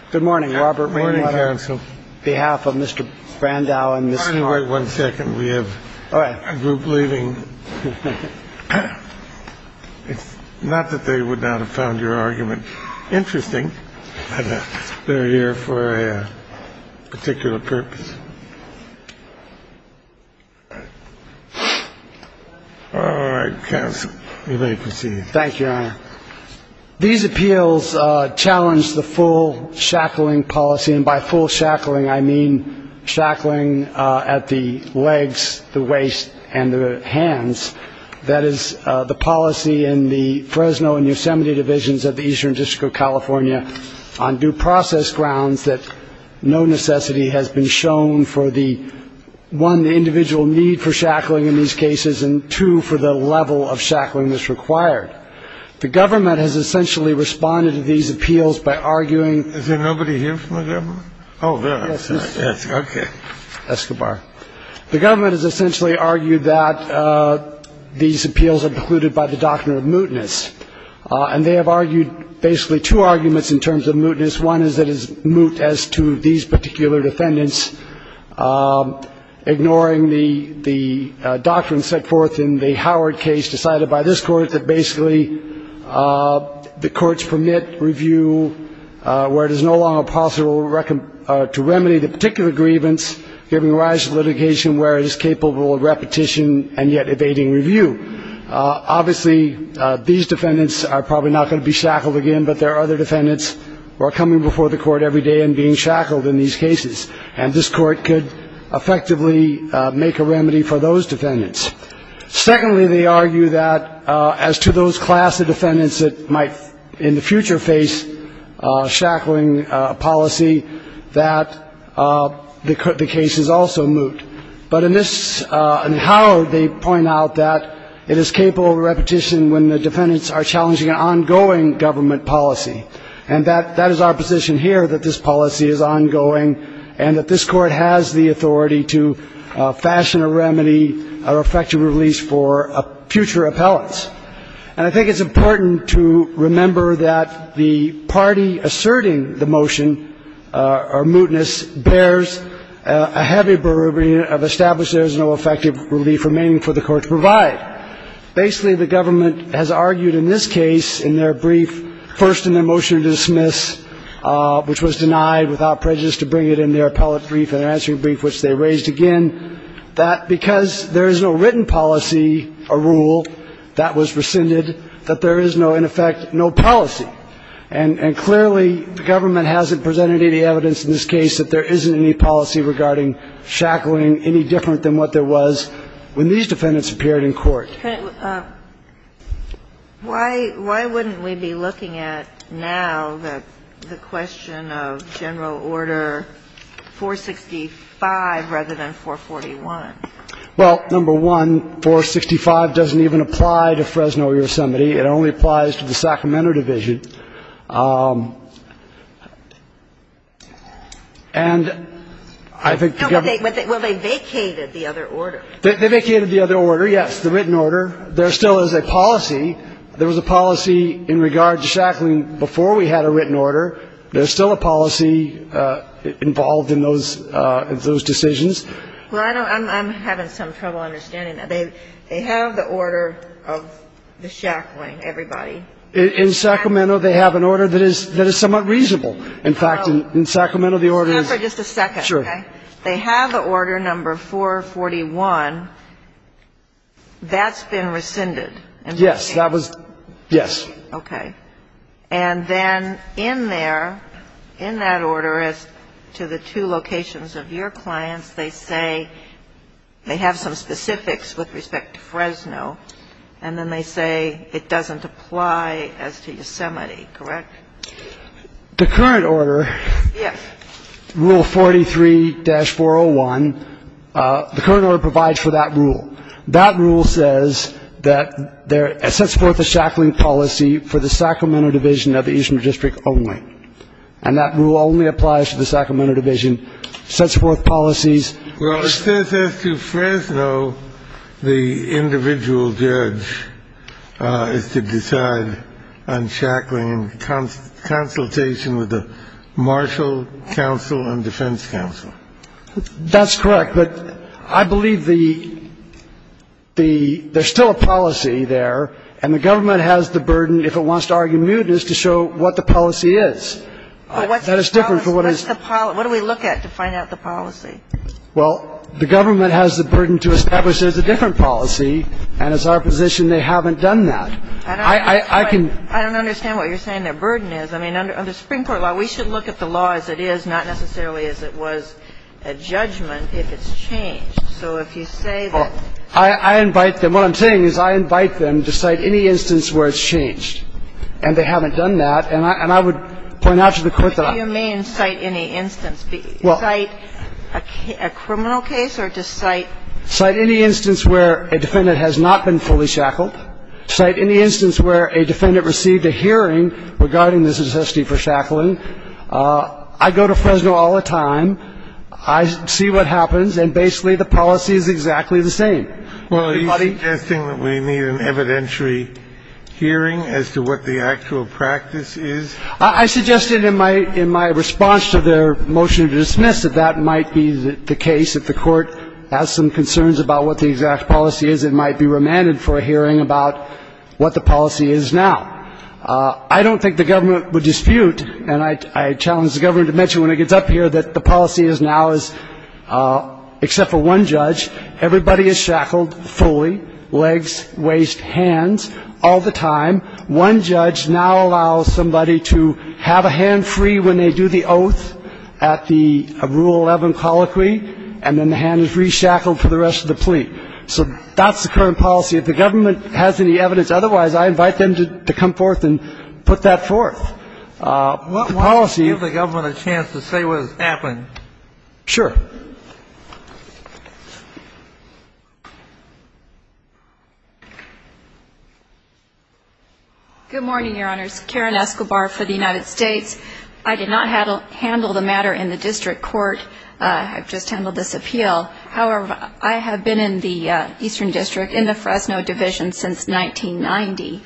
on behalf of Mr. Brandau and Ms. Hartman. Wait one second. We have a group leaving. It's not that they would not have found your argument interesting, but they're here for a particular purpose. All right, counsel, you may proceed. Thank you, Your Honor. These appeals challenge the full shackling policy. And by full shackling, I mean shackling at the legs, the waist and the hands. That is the policy in the Fresno and Yosemite divisions of the Eastern District of California on due process grounds that no necessity has been shown for the one individual need for shackling in these cases and two, for the level of shackling that's required. The government has essentially responded to these appeals by arguing. Is there nobody here from the government? Oh, there is. Okay. Escobar. The government has essentially argued that these appeals are precluded by the doctrine of mootness. And they have argued basically two arguments in terms of mootness. One is that it is moot as to these particular defendants ignoring the doctrine set forth in the Howard case decided by this court that basically the courts permit review where it is no longer possible to remedy the particular grievance, giving rise to litigation where it is capable of repetition and yet evading review. Obviously, these defendants are probably not going to be shackled again, but there are other defendants who are coming before the court every day and being shackled in these cases. And this court could effectively make a remedy for those defendants. Secondly, they argue that as to those class of defendants that might in the future face shackling policy, that the case is also moot. But in this, in Howard, they point out that it is capable of repetition when the defendants are challenging an ongoing government policy. And that is our position here, that this policy is ongoing and that this court has the authority to fashion a remedy, an effective release for future appellants. And I think it's important to remember that the party asserting the motion or mootness bears a heavy burden of establishing there is no effective relief remaining for the court to provide. Basically, the government has argued in this case in their brief, first in their motion to dismiss, which was denied without prejudice to bring it in their appellate brief and their answering brief, which they raised again, that because there is no written policy or rule that was rescinded, that there is no, in effect, no policy. And clearly, the government hasn't presented any evidence in this case that there isn't any policy regarding shackling any different than what there was when these defendants appeared in court. Ginsburg. Why wouldn't we be looking at now the question of general order 465 rather than 441? Well, number one, 465 doesn't even apply to Fresno or Yosemite. It only applies to the Sacramento division. And I think the government ---- Well, they vacated the other order. They vacated the other order, yes. The written order. There still is a policy. There was a policy in regard to shackling before we had a written order. There's still a policy involved in those decisions. Well, I don't ---- I'm having some trouble understanding that. They have the order of the shackling, everybody. In Sacramento, they have an order that is somewhat reasonable. In fact, in Sacramento, the order is ---- Stand for just a second. Sure. Okay. They have order number 441. That's been rescinded. Yes. That was ---- Yes. Okay. And then in there, in that order, as to the two locations of your clients, they say they have some specifics with respect to Fresno, and then they say it doesn't apply as to Yosemite, correct? The current order ---- Yes. Rule 43-401, the current order provides for that rule. That rule says that there ---- it sets forth a shackling policy for the Sacramento Division of the Eastern District only. And that rule only applies to the Sacramento Division. It sets forth policies ---- Well, it says as to Fresno, the individual judge is to decide on shackling in consultation with the Marshall Council and Defense Council. That's correct. But I believe the ---- there's still a policy there, and the government has the burden, if it wants to argue muteness, to show what the policy is. That is different from what is ---- What's the policy? What do we look at to find out the policy? Well, the government has the burden to establish there's a different policy, and it's our position they haven't done that. I can ---- I don't understand what you're saying their burden is. I mean, under spring court law, we should look at the law as it is, not necessarily as it was a judgment, if it's changed. So if you say that ---- Well, I invite them ---- what I'm saying is I invite them to cite any instance where it's changed, and they haven't done that. And I would point out to the Court that I ---- What do you mean, cite any instance? Well ---- Cite a criminal case or just cite ---- Cite any instance where a defendant has not been fully shackled. Cite any instance where a defendant received a hearing regarding this necessity for shackling. I go to Fresno all the time. I see what happens, and basically the policy is exactly the same. Everybody ---- Well, are you suggesting that we need an evidentiary hearing as to what the actual practice is? I suggested in my response to their motion to dismiss that that might be the case. If the Court has some concerns about what the exact policy is, it might be remanded for a hearing about what the policy is now. I don't think the government would dispute, and I challenge the government to mention when it gets up here, that the policy is now is, except for one judge, everybody is shackled fully, legs, waist, hands, all the time. One judge now allows somebody to have a hand free when they do the oath at the Rule 11 colloquy, and then the hand is reshackled for the rest of the plea. So that's the current policy. If the government has any evidence otherwise, I invite them to come forth and put that forth. The policy ---- Why don't you give the government a chance to say what has happened? Sure. Good morning, Your Honors. Karen Escobar for the United States. I did not handle the matter in the district court. I've just handled this appeal. However, I have been in the Eastern District, in the Fresno Division, since 1990.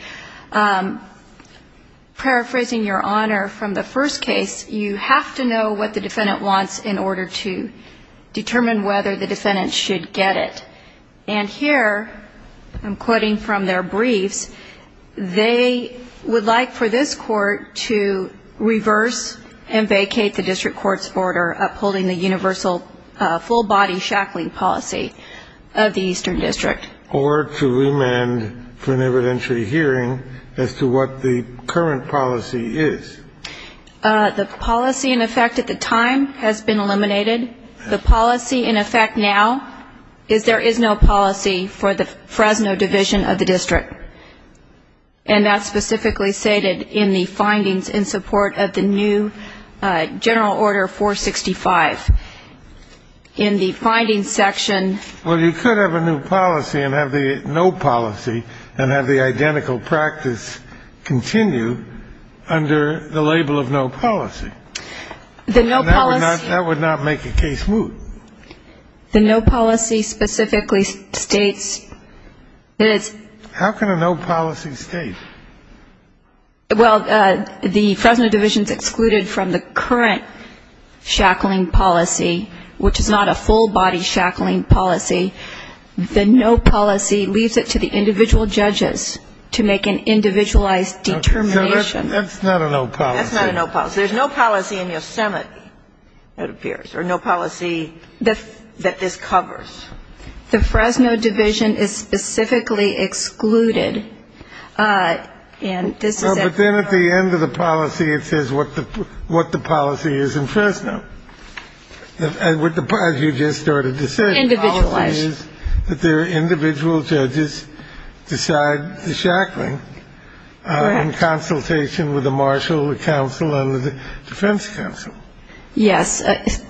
Paraphrasing Your Honor, from the first case, you have to know what the defendant wants in order to get the appeal. Determine whether the defendant should get it. And here, I'm quoting from their briefs, they would like for this court to reverse and vacate the district court's order upholding the universal full body shackling policy of the Eastern District. Or to remand for an evidentiary hearing as to what the current policy is. The policy in effect at the time has been eliminated. The policy in effect now is there is no policy for the Fresno Division of the district. And that's specifically stated in the findings in support of the new general order 465. In the findings section ---- Well, you could have a new policy and have the no policy and have the identical practice continue under the label of no policy. The no policy ---- That would not make a case move. The no policy specifically states that it's ---- How can a no policy state? Well, the Fresno Division is excluded from the current shackling policy, which is not a full body shackling policy. The no policy leaves it to the individual judges to make an individualized determination. That's not a no policy. That's not a no policy. There's no policy in Yosemite, it appears, or no policy that this covers. The Fresno Division is specifically excluded. And this is a ---- But then at the end of the policy, it says what the policy is in Fresno. As you just started to say. Individualized. The policy is that the individual judges decide the shackling in consultation with the marshal, the counsel, and the defense counsel. Yes,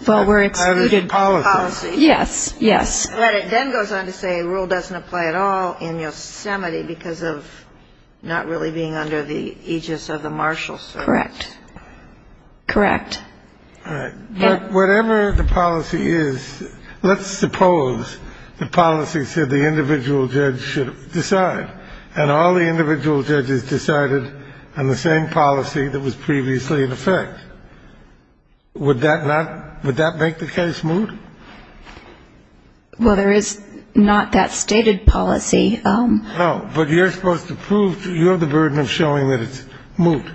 but we're excluded by the policy. Yes, yes. But it then goes on to say a rule doesn't apply at all in Yosemite because of not really being under the aegis of the marshal. Correct. Correct. All right. But whatever the policy is, let's suppose the policy said the individual judge should decide, and all the individual judges decided on the same policy that was previously in effect. Would that not ---- would that make the case move? Well, there is not that stated policy. No. But you're supposed to prove you're the burden of showing that it's moved.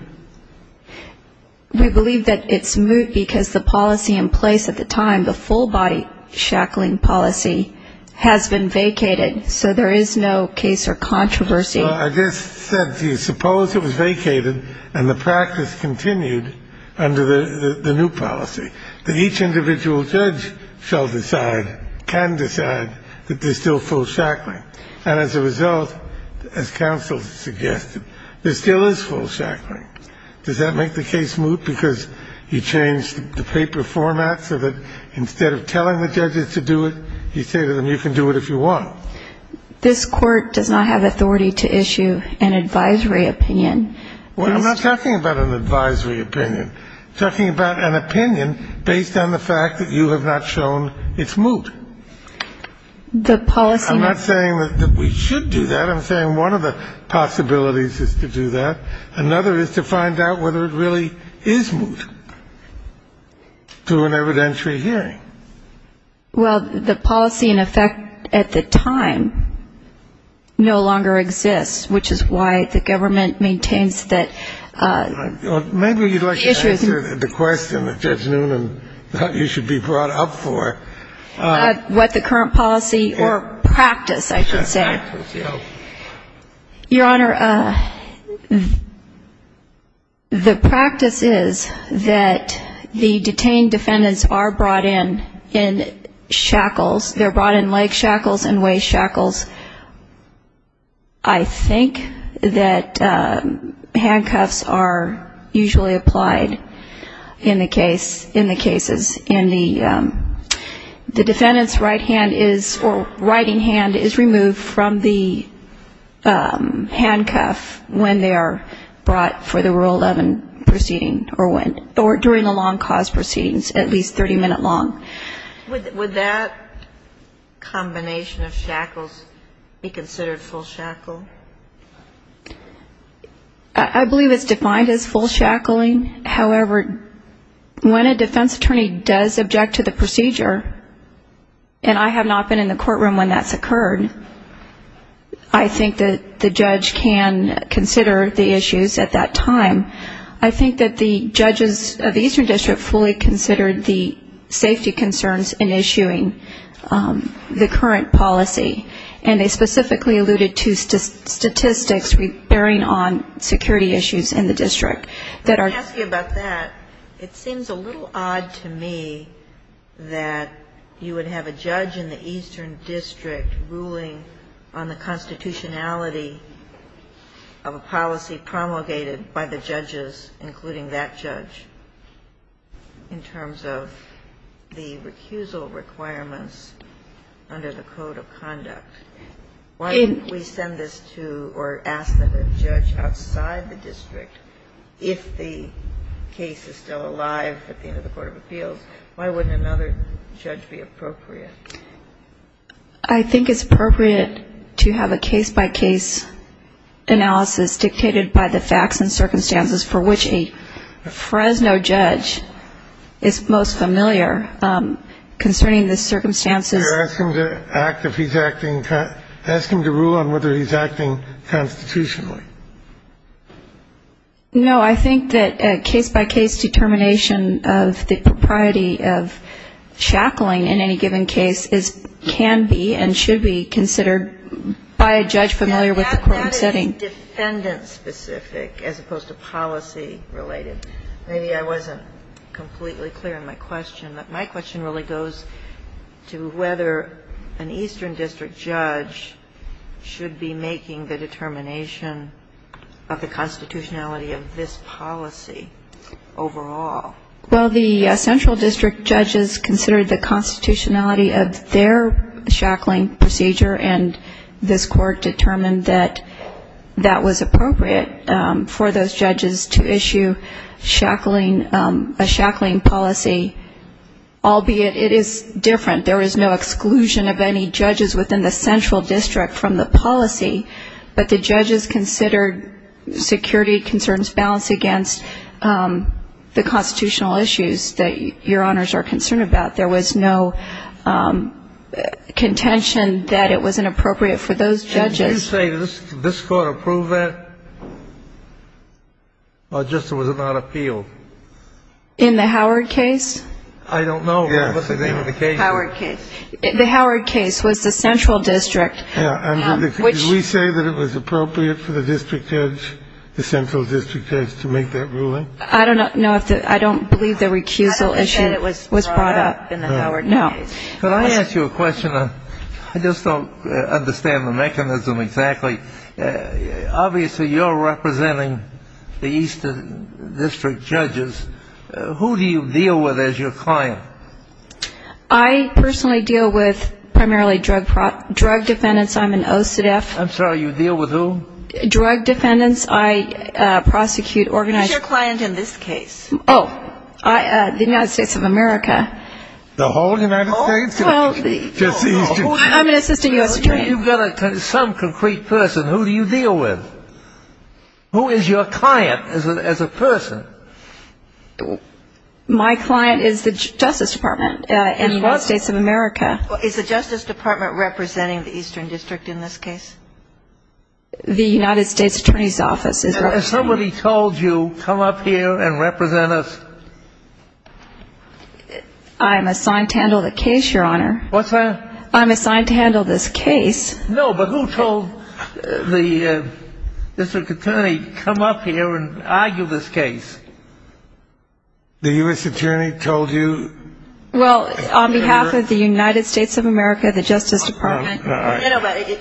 We believe that it's moved because the policy in place at the time, the full body shackling policy, has been vacated. So there is no case or controversy. I just said to you, suppose it was vacated and the practice continued under the new policy, that each individual judge shall decide, can decide, that there's still full shackling. And as a result, as counsel suggested, there still is full shackling. Does that make the case move? Because you changed the paper format so that instead of telling the judges to do it, you say to them, you can do it if you want. This Court does not have authority to issue an advisory opinion. Well, I'm not talking about an advisory opinion. I'm talking about an opinion based on the fact that you have not shown it's moved. The policy ---- I'm not saying that we should do that. I'm saying one of the possibilities is to do that. Another is to find out whether it really is moved through an evidentiary hearing. Well, the policy, in effect, at the time, no longer exists, which is why the government maintains that issues ---- Maybe you'd like to answer the question that Judge Noonan thought you should be brought up for. What the current policy or practice, I should say. Practice, yes. Your Honor, the practice is that the detained defendants are brought in in shackles. They're brought in leg shackles and waist shackles. I think that handcuffs are usually applied in the cases. And the defendant's right hand is or righting hand is removed from the handcuff when they are brought for the Rule 11 proceeding or during the long cause proceedings, at least 30-minute long. Would that combination of shackles be considered full shackle? I believe it's defined as full shackling. However, when a defense attorney does object to the procedure, and I have not been in the courtroom when that's occurred, I think that the judge can consider the issues at that time. I think that the judges of the Eastern District fully considered the safety concerns in issuing the current policy, and they specifically alluded to statistics bearing on security issues in the district. Let me ask you about that. It seems a little odd to me that you would have a judge in the Eastern District ruling on the constitutionality of a policy promulgated by the judges, including that judge, in terms of the recusal requirements under the Code of Conduct. Why don't we send this to or ask that a judge outside the district, if the case is still alive at the end of the Court of Appeals, why wouldn't another judge be appropriate? I think it's appropriate to have a case-by-case analysis dictated by the facts and circumstances for which a Fresno judge is most familiar concerning the circumstances. You're asking him to act if he's acting, asking him to rule on whether he's acting constitutionally. No, I think that a case-by-case determination of the propriety of shackling in any given case can be and should be considered by a judge familiar with the courtroom setting. It's very defendant-specific as opposed to policy-related. Maybe I wasn't completely clear in my question, but my question really goes to whether an Eastern District judge should be making the determination of the constitutionality of this policy overall. Well, the Central District judges considered the constitutionality of their shackling procedure, and this Court determined that that was appropriate for those judges to issue a shackling policy, albeit it is different. There is no exclusion of any judges within the Central District from the policy, but the judges considered security concerns balanced against the constitutional issues that Your Honors are concerned about. There was no contention that it was inappropriate for those judges. Did you say this Court approved that, or just was it not appealed? In the Howard case? I don't know. Yes. What was the name of the case? Howard case. The Howard case was the Central District. Did we say that it was appropriate for the district judge, the Central District judge, to make that ruling? I don't know. I don't believe the recusal issue was brought up in the Howard case. No. Could I ask you a question? I just don't understand the mechanism exactly. Obviously, you're representing the Eastern District judges. Who do you deal with as your client? I personally deal with primarily drug defendants. I'm an OCDETF. I'm sorry, you deal with who? Drug defendants. I prosecute organized ---- Who's your client in this case? Oh, the United States of America. The whole United States? I'm an assistant U.S. attorney. You've got some concrete person. Who do you deal with? Who is your client as a person? My client is the Justice Department in the United States of America. Is the Justice Department representing the Eastern District in this case? The United States Attorney's Office is representing. Has somebody told you, come up here and represent us? I'm assigned to handle the case, Your Honor. What's that? I'm assigned to handle this case. No, but who told Mr. Cattani, come up here and argue this case? The U.S. Attorney told you? Well, on behalf of the United States of America, the Justice Department.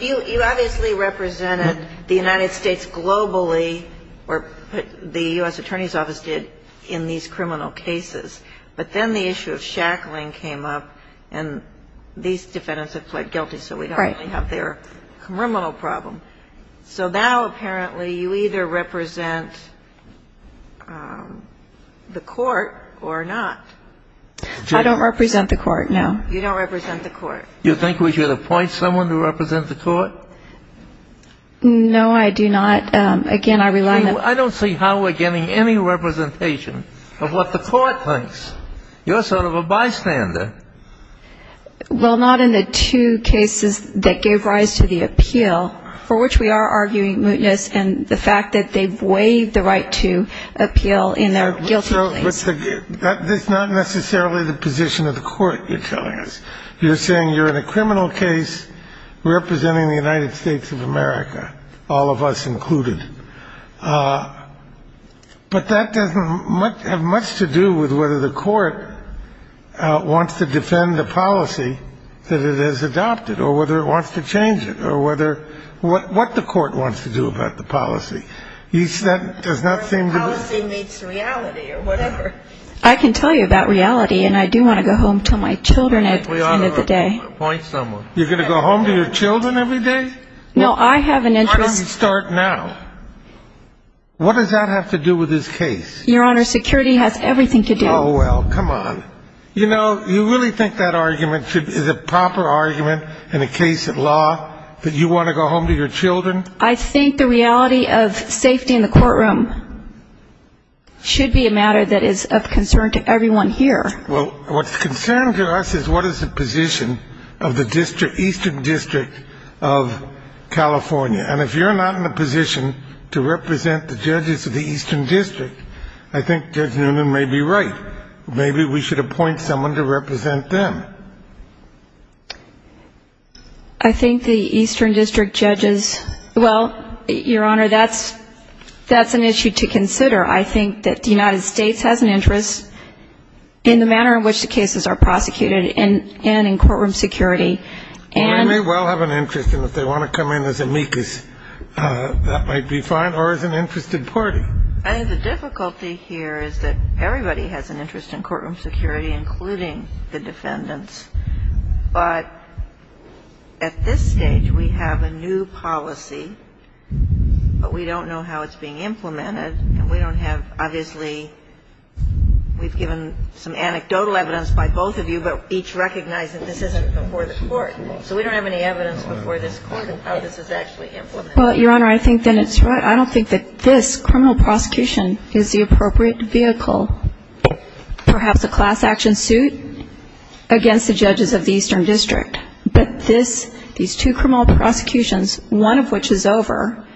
You obviously represented the United States globally, or the U.S. Attorney's Office did, in these criminal cases. But then the issue of shackling came up, and these defendants have pled guilty, so we don't really have their criminal problem. So now, apparently, you either represent the court or not. I don't represent the court, no. You don't represent the court. You think we should appoint someone to represent the court? No, I do not. Again, I rely on the court. I don't see how we're getting any representation of what the court thinks. You're sort of a bystander. Well, not in the two cases that gave rise to the appeal, for which we are arguing mootness and the fact that they've waived the right to appeal in their guilty plea. That's not necessarily the position of the court you're telling us. You're saying you're in a criminal case representing the United States of America, all of us included. But that doesn't have much to do with whether the court wants to defend the policy that it has adopted or whether it wants to change it or what the court wants to do about the policy. The court's policy meets reality or whatever. I can tell you about reality, and I do want to go home to my children. We ought to appoint someone. You're going to go home to your children every day? No, I have an interest. Why don't you start now? What does that have to do with this case? Your Honor, security has everything to do. Oh, well, come on. You know, you really think that argument is a proper argument in a case of law, that you want to go home to your children? I think the reality of safety in the courtroom should be a matter that is of concern to everyone here. Well, what's of concern to us is what is the position of the Eastern District of California. And if you're not in a position to represent the judges of the Eastern District, I think Judge Newman may be right. Maybe we should appoint someone to represent them. I think the Eastern District judges, well, Your Honor, that's an issue to consider. I think that the United States has an interest in the manner in which the cases are prosecuted and in courtroom security. Well, they may well have an interest, and if they want to come in as amicus, that might be fine, or as an interested party. I think the difficulty here is that everybody has an interest in courtroom security, including the defendants. But at this stage, we have a new policy, but we don't know how it's being implemented. And we don't have, obviously, we've given some anecdotal evidence by both of you, but each recognize that this isn't before the court. So we don't have any evidence before this Court of how this is actually implemented. Well, Your Honor, I think that it's right. I don't think that this criminal prosecution is the appropriate vehicle. Perhaps a class action suit against the judges of the Eastern District. But these two criminal prosecutions, one of which is over,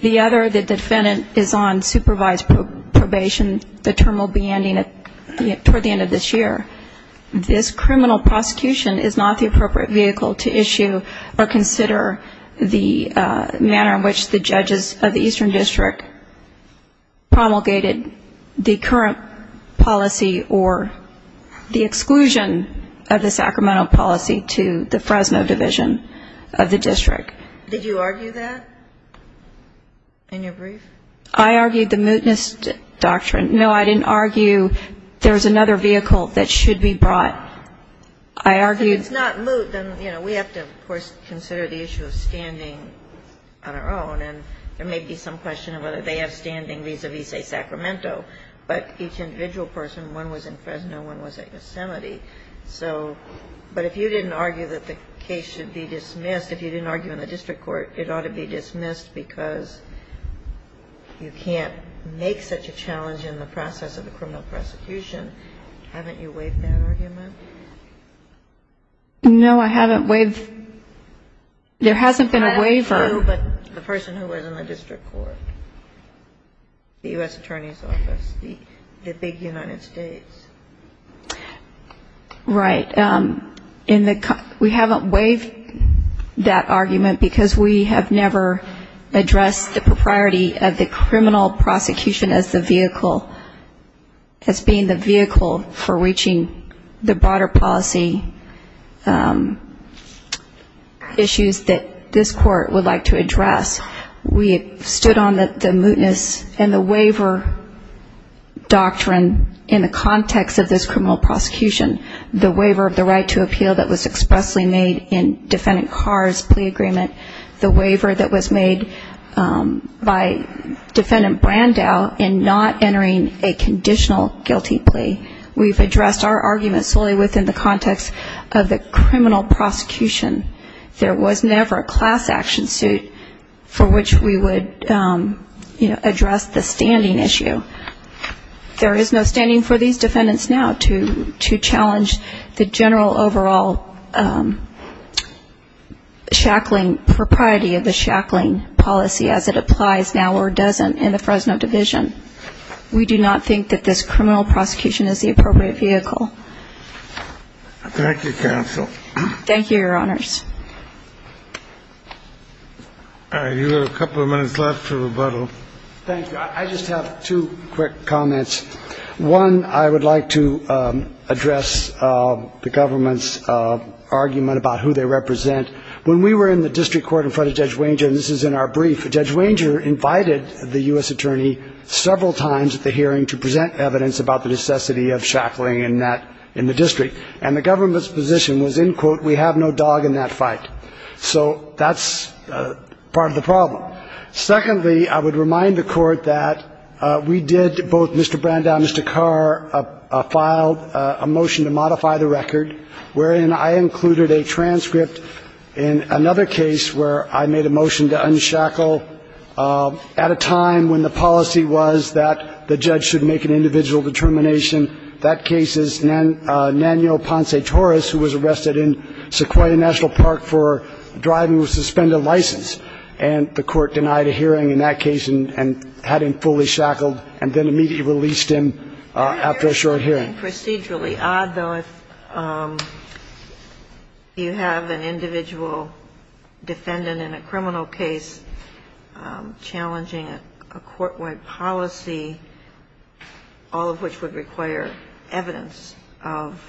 the other, the defendant, is on supervised probation. The term will be ending toward the end of this year. This criminal prosecution is not the appropriate vehicle to issue or consider the manner in which the judges of the Eastern District promulgated the current policy or the exclusion of the Sacramento policy to the Fresno Division of the District. Did you argue that in your brief? I argued the mootness doctrine. No, I didn't argue there's another vehicle that should be brought. I argued the mootness doctrine. If it's not moot, then, you know, we have to, of course, consider the issue of standing on our own. And there may be some question of whether they have standing vis-a-vis, say, Sacramento. But each individual person, one was in Fresno, one was at Yosemite. So but if you didn't argue that the case should be dismissed, if you didn't argue in the district court, it ought to be dismissed because you can't make such a challenge in the process of the criminal prosecution. Haven't you waived that argument? No, I haven't waived. There hasn't been a waiver. The person who was in the district court, the U.S. Attorney's Office, the big United States. Right. We haven't waived that argument because we have never addressed the propriety of the criminal prosecution as the vehicle, as being the vehicle for reaching the broader policy issues that this court would like to address. We stood on the mootness and the waiver doctrine in the context of this criminal prosecution. The waiver of the right to appeal that was expressly made in Defendant Carr's plea agreement. The waiver that was made by Defendant Brandow in not entering a conditional guilty plea. We've addressed our argument solely within the context of the criminal prosecution. There was never a class action suit for which we would, you know, address the standing issue. There is no standing for these defendants now to challenge the general overall shackling, propriety of the shackling policy as it applies now or doesn't in the Fresno Division. We do not think that this criminal prosecution is the appropriate vehicle. Thank you, counsel. Thank you, Your Honors. You have a couple of minutes left to rebuttal. Thank you. I just have two quick comments. One, I would like to address the government's argument about who they represent. When we were in the district court in front of Judge Wanger, and this is in our brief, Judge Wanger invited the U.S. attorney several times at the hearing to present evidence about the necessity of shackling in the district. And the government's position was, in quote, we have no dog in that fight. So that's part of the problem. Secondly, I would remind the Court that we did, both Mr. Branda and Mr. Carr, filed a motion to modify the record, wherein I included a transcript in another case where I made a motion to unshackle at a time when the policy was that the judge should make an individual determination. That case is Nanyo Ponce-Torres, who was arrested in Sequoia National Park for driving with a suspended license. And the Court denied a hearing in that case and had him fully shackled and then immediately released him after a short hearing. Isn't it procedurally odd, though, if you have an individual defendant in a criminal case challenging a court-wide policy, all of which would require evidence of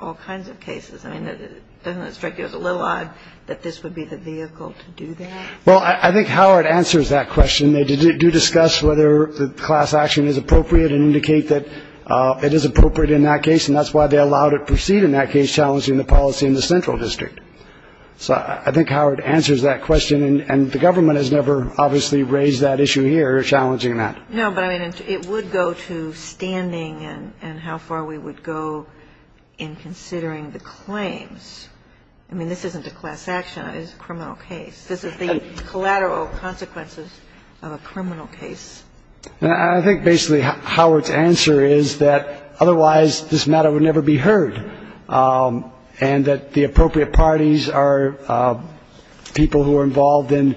all kinds of cases? I mean, doesn't that strike you as a little odd that this would be the vehicle to do that? Well, I think Howard answers that question. They do discuss whether the class action is appropriate and indicate that it is appropriate in that case. And that's why they allowed it proceed in that case, challenging the policy in the central district. So I think Howard answers that question. And the government has never, obviously, raised that issue here, challenging that. No, but I mean, it would go to standing and how far we would go in considering the claims. I mean, this isn't a class action. It is a criminal case. This is the collateral consequences of a criminal case. I think basically Howard's answer is that otherwise this matter would never be heard, and that the appropriate parties are people who are involved in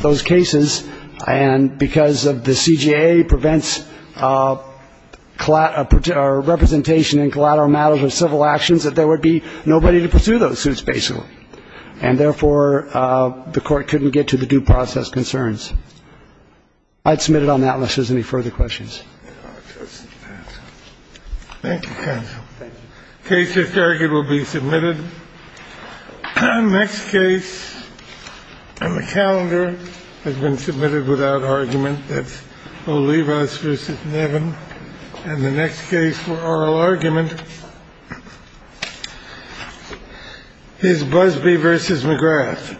those cases. And because the CJA prevents representation in collateral matters of civil actions, that there would be nobody to pursue those suits, basically. And therefore, the court couldn't get to the due process concerns. I'd submit it on that unless there's any further questions. Thank you, counsel. Thank you. The case is targeted to be submitted. The next case on the calendar has been submitted without argument. That's Olivas v. Nevin. And the next case for oral argument is Busbee v. McGrath.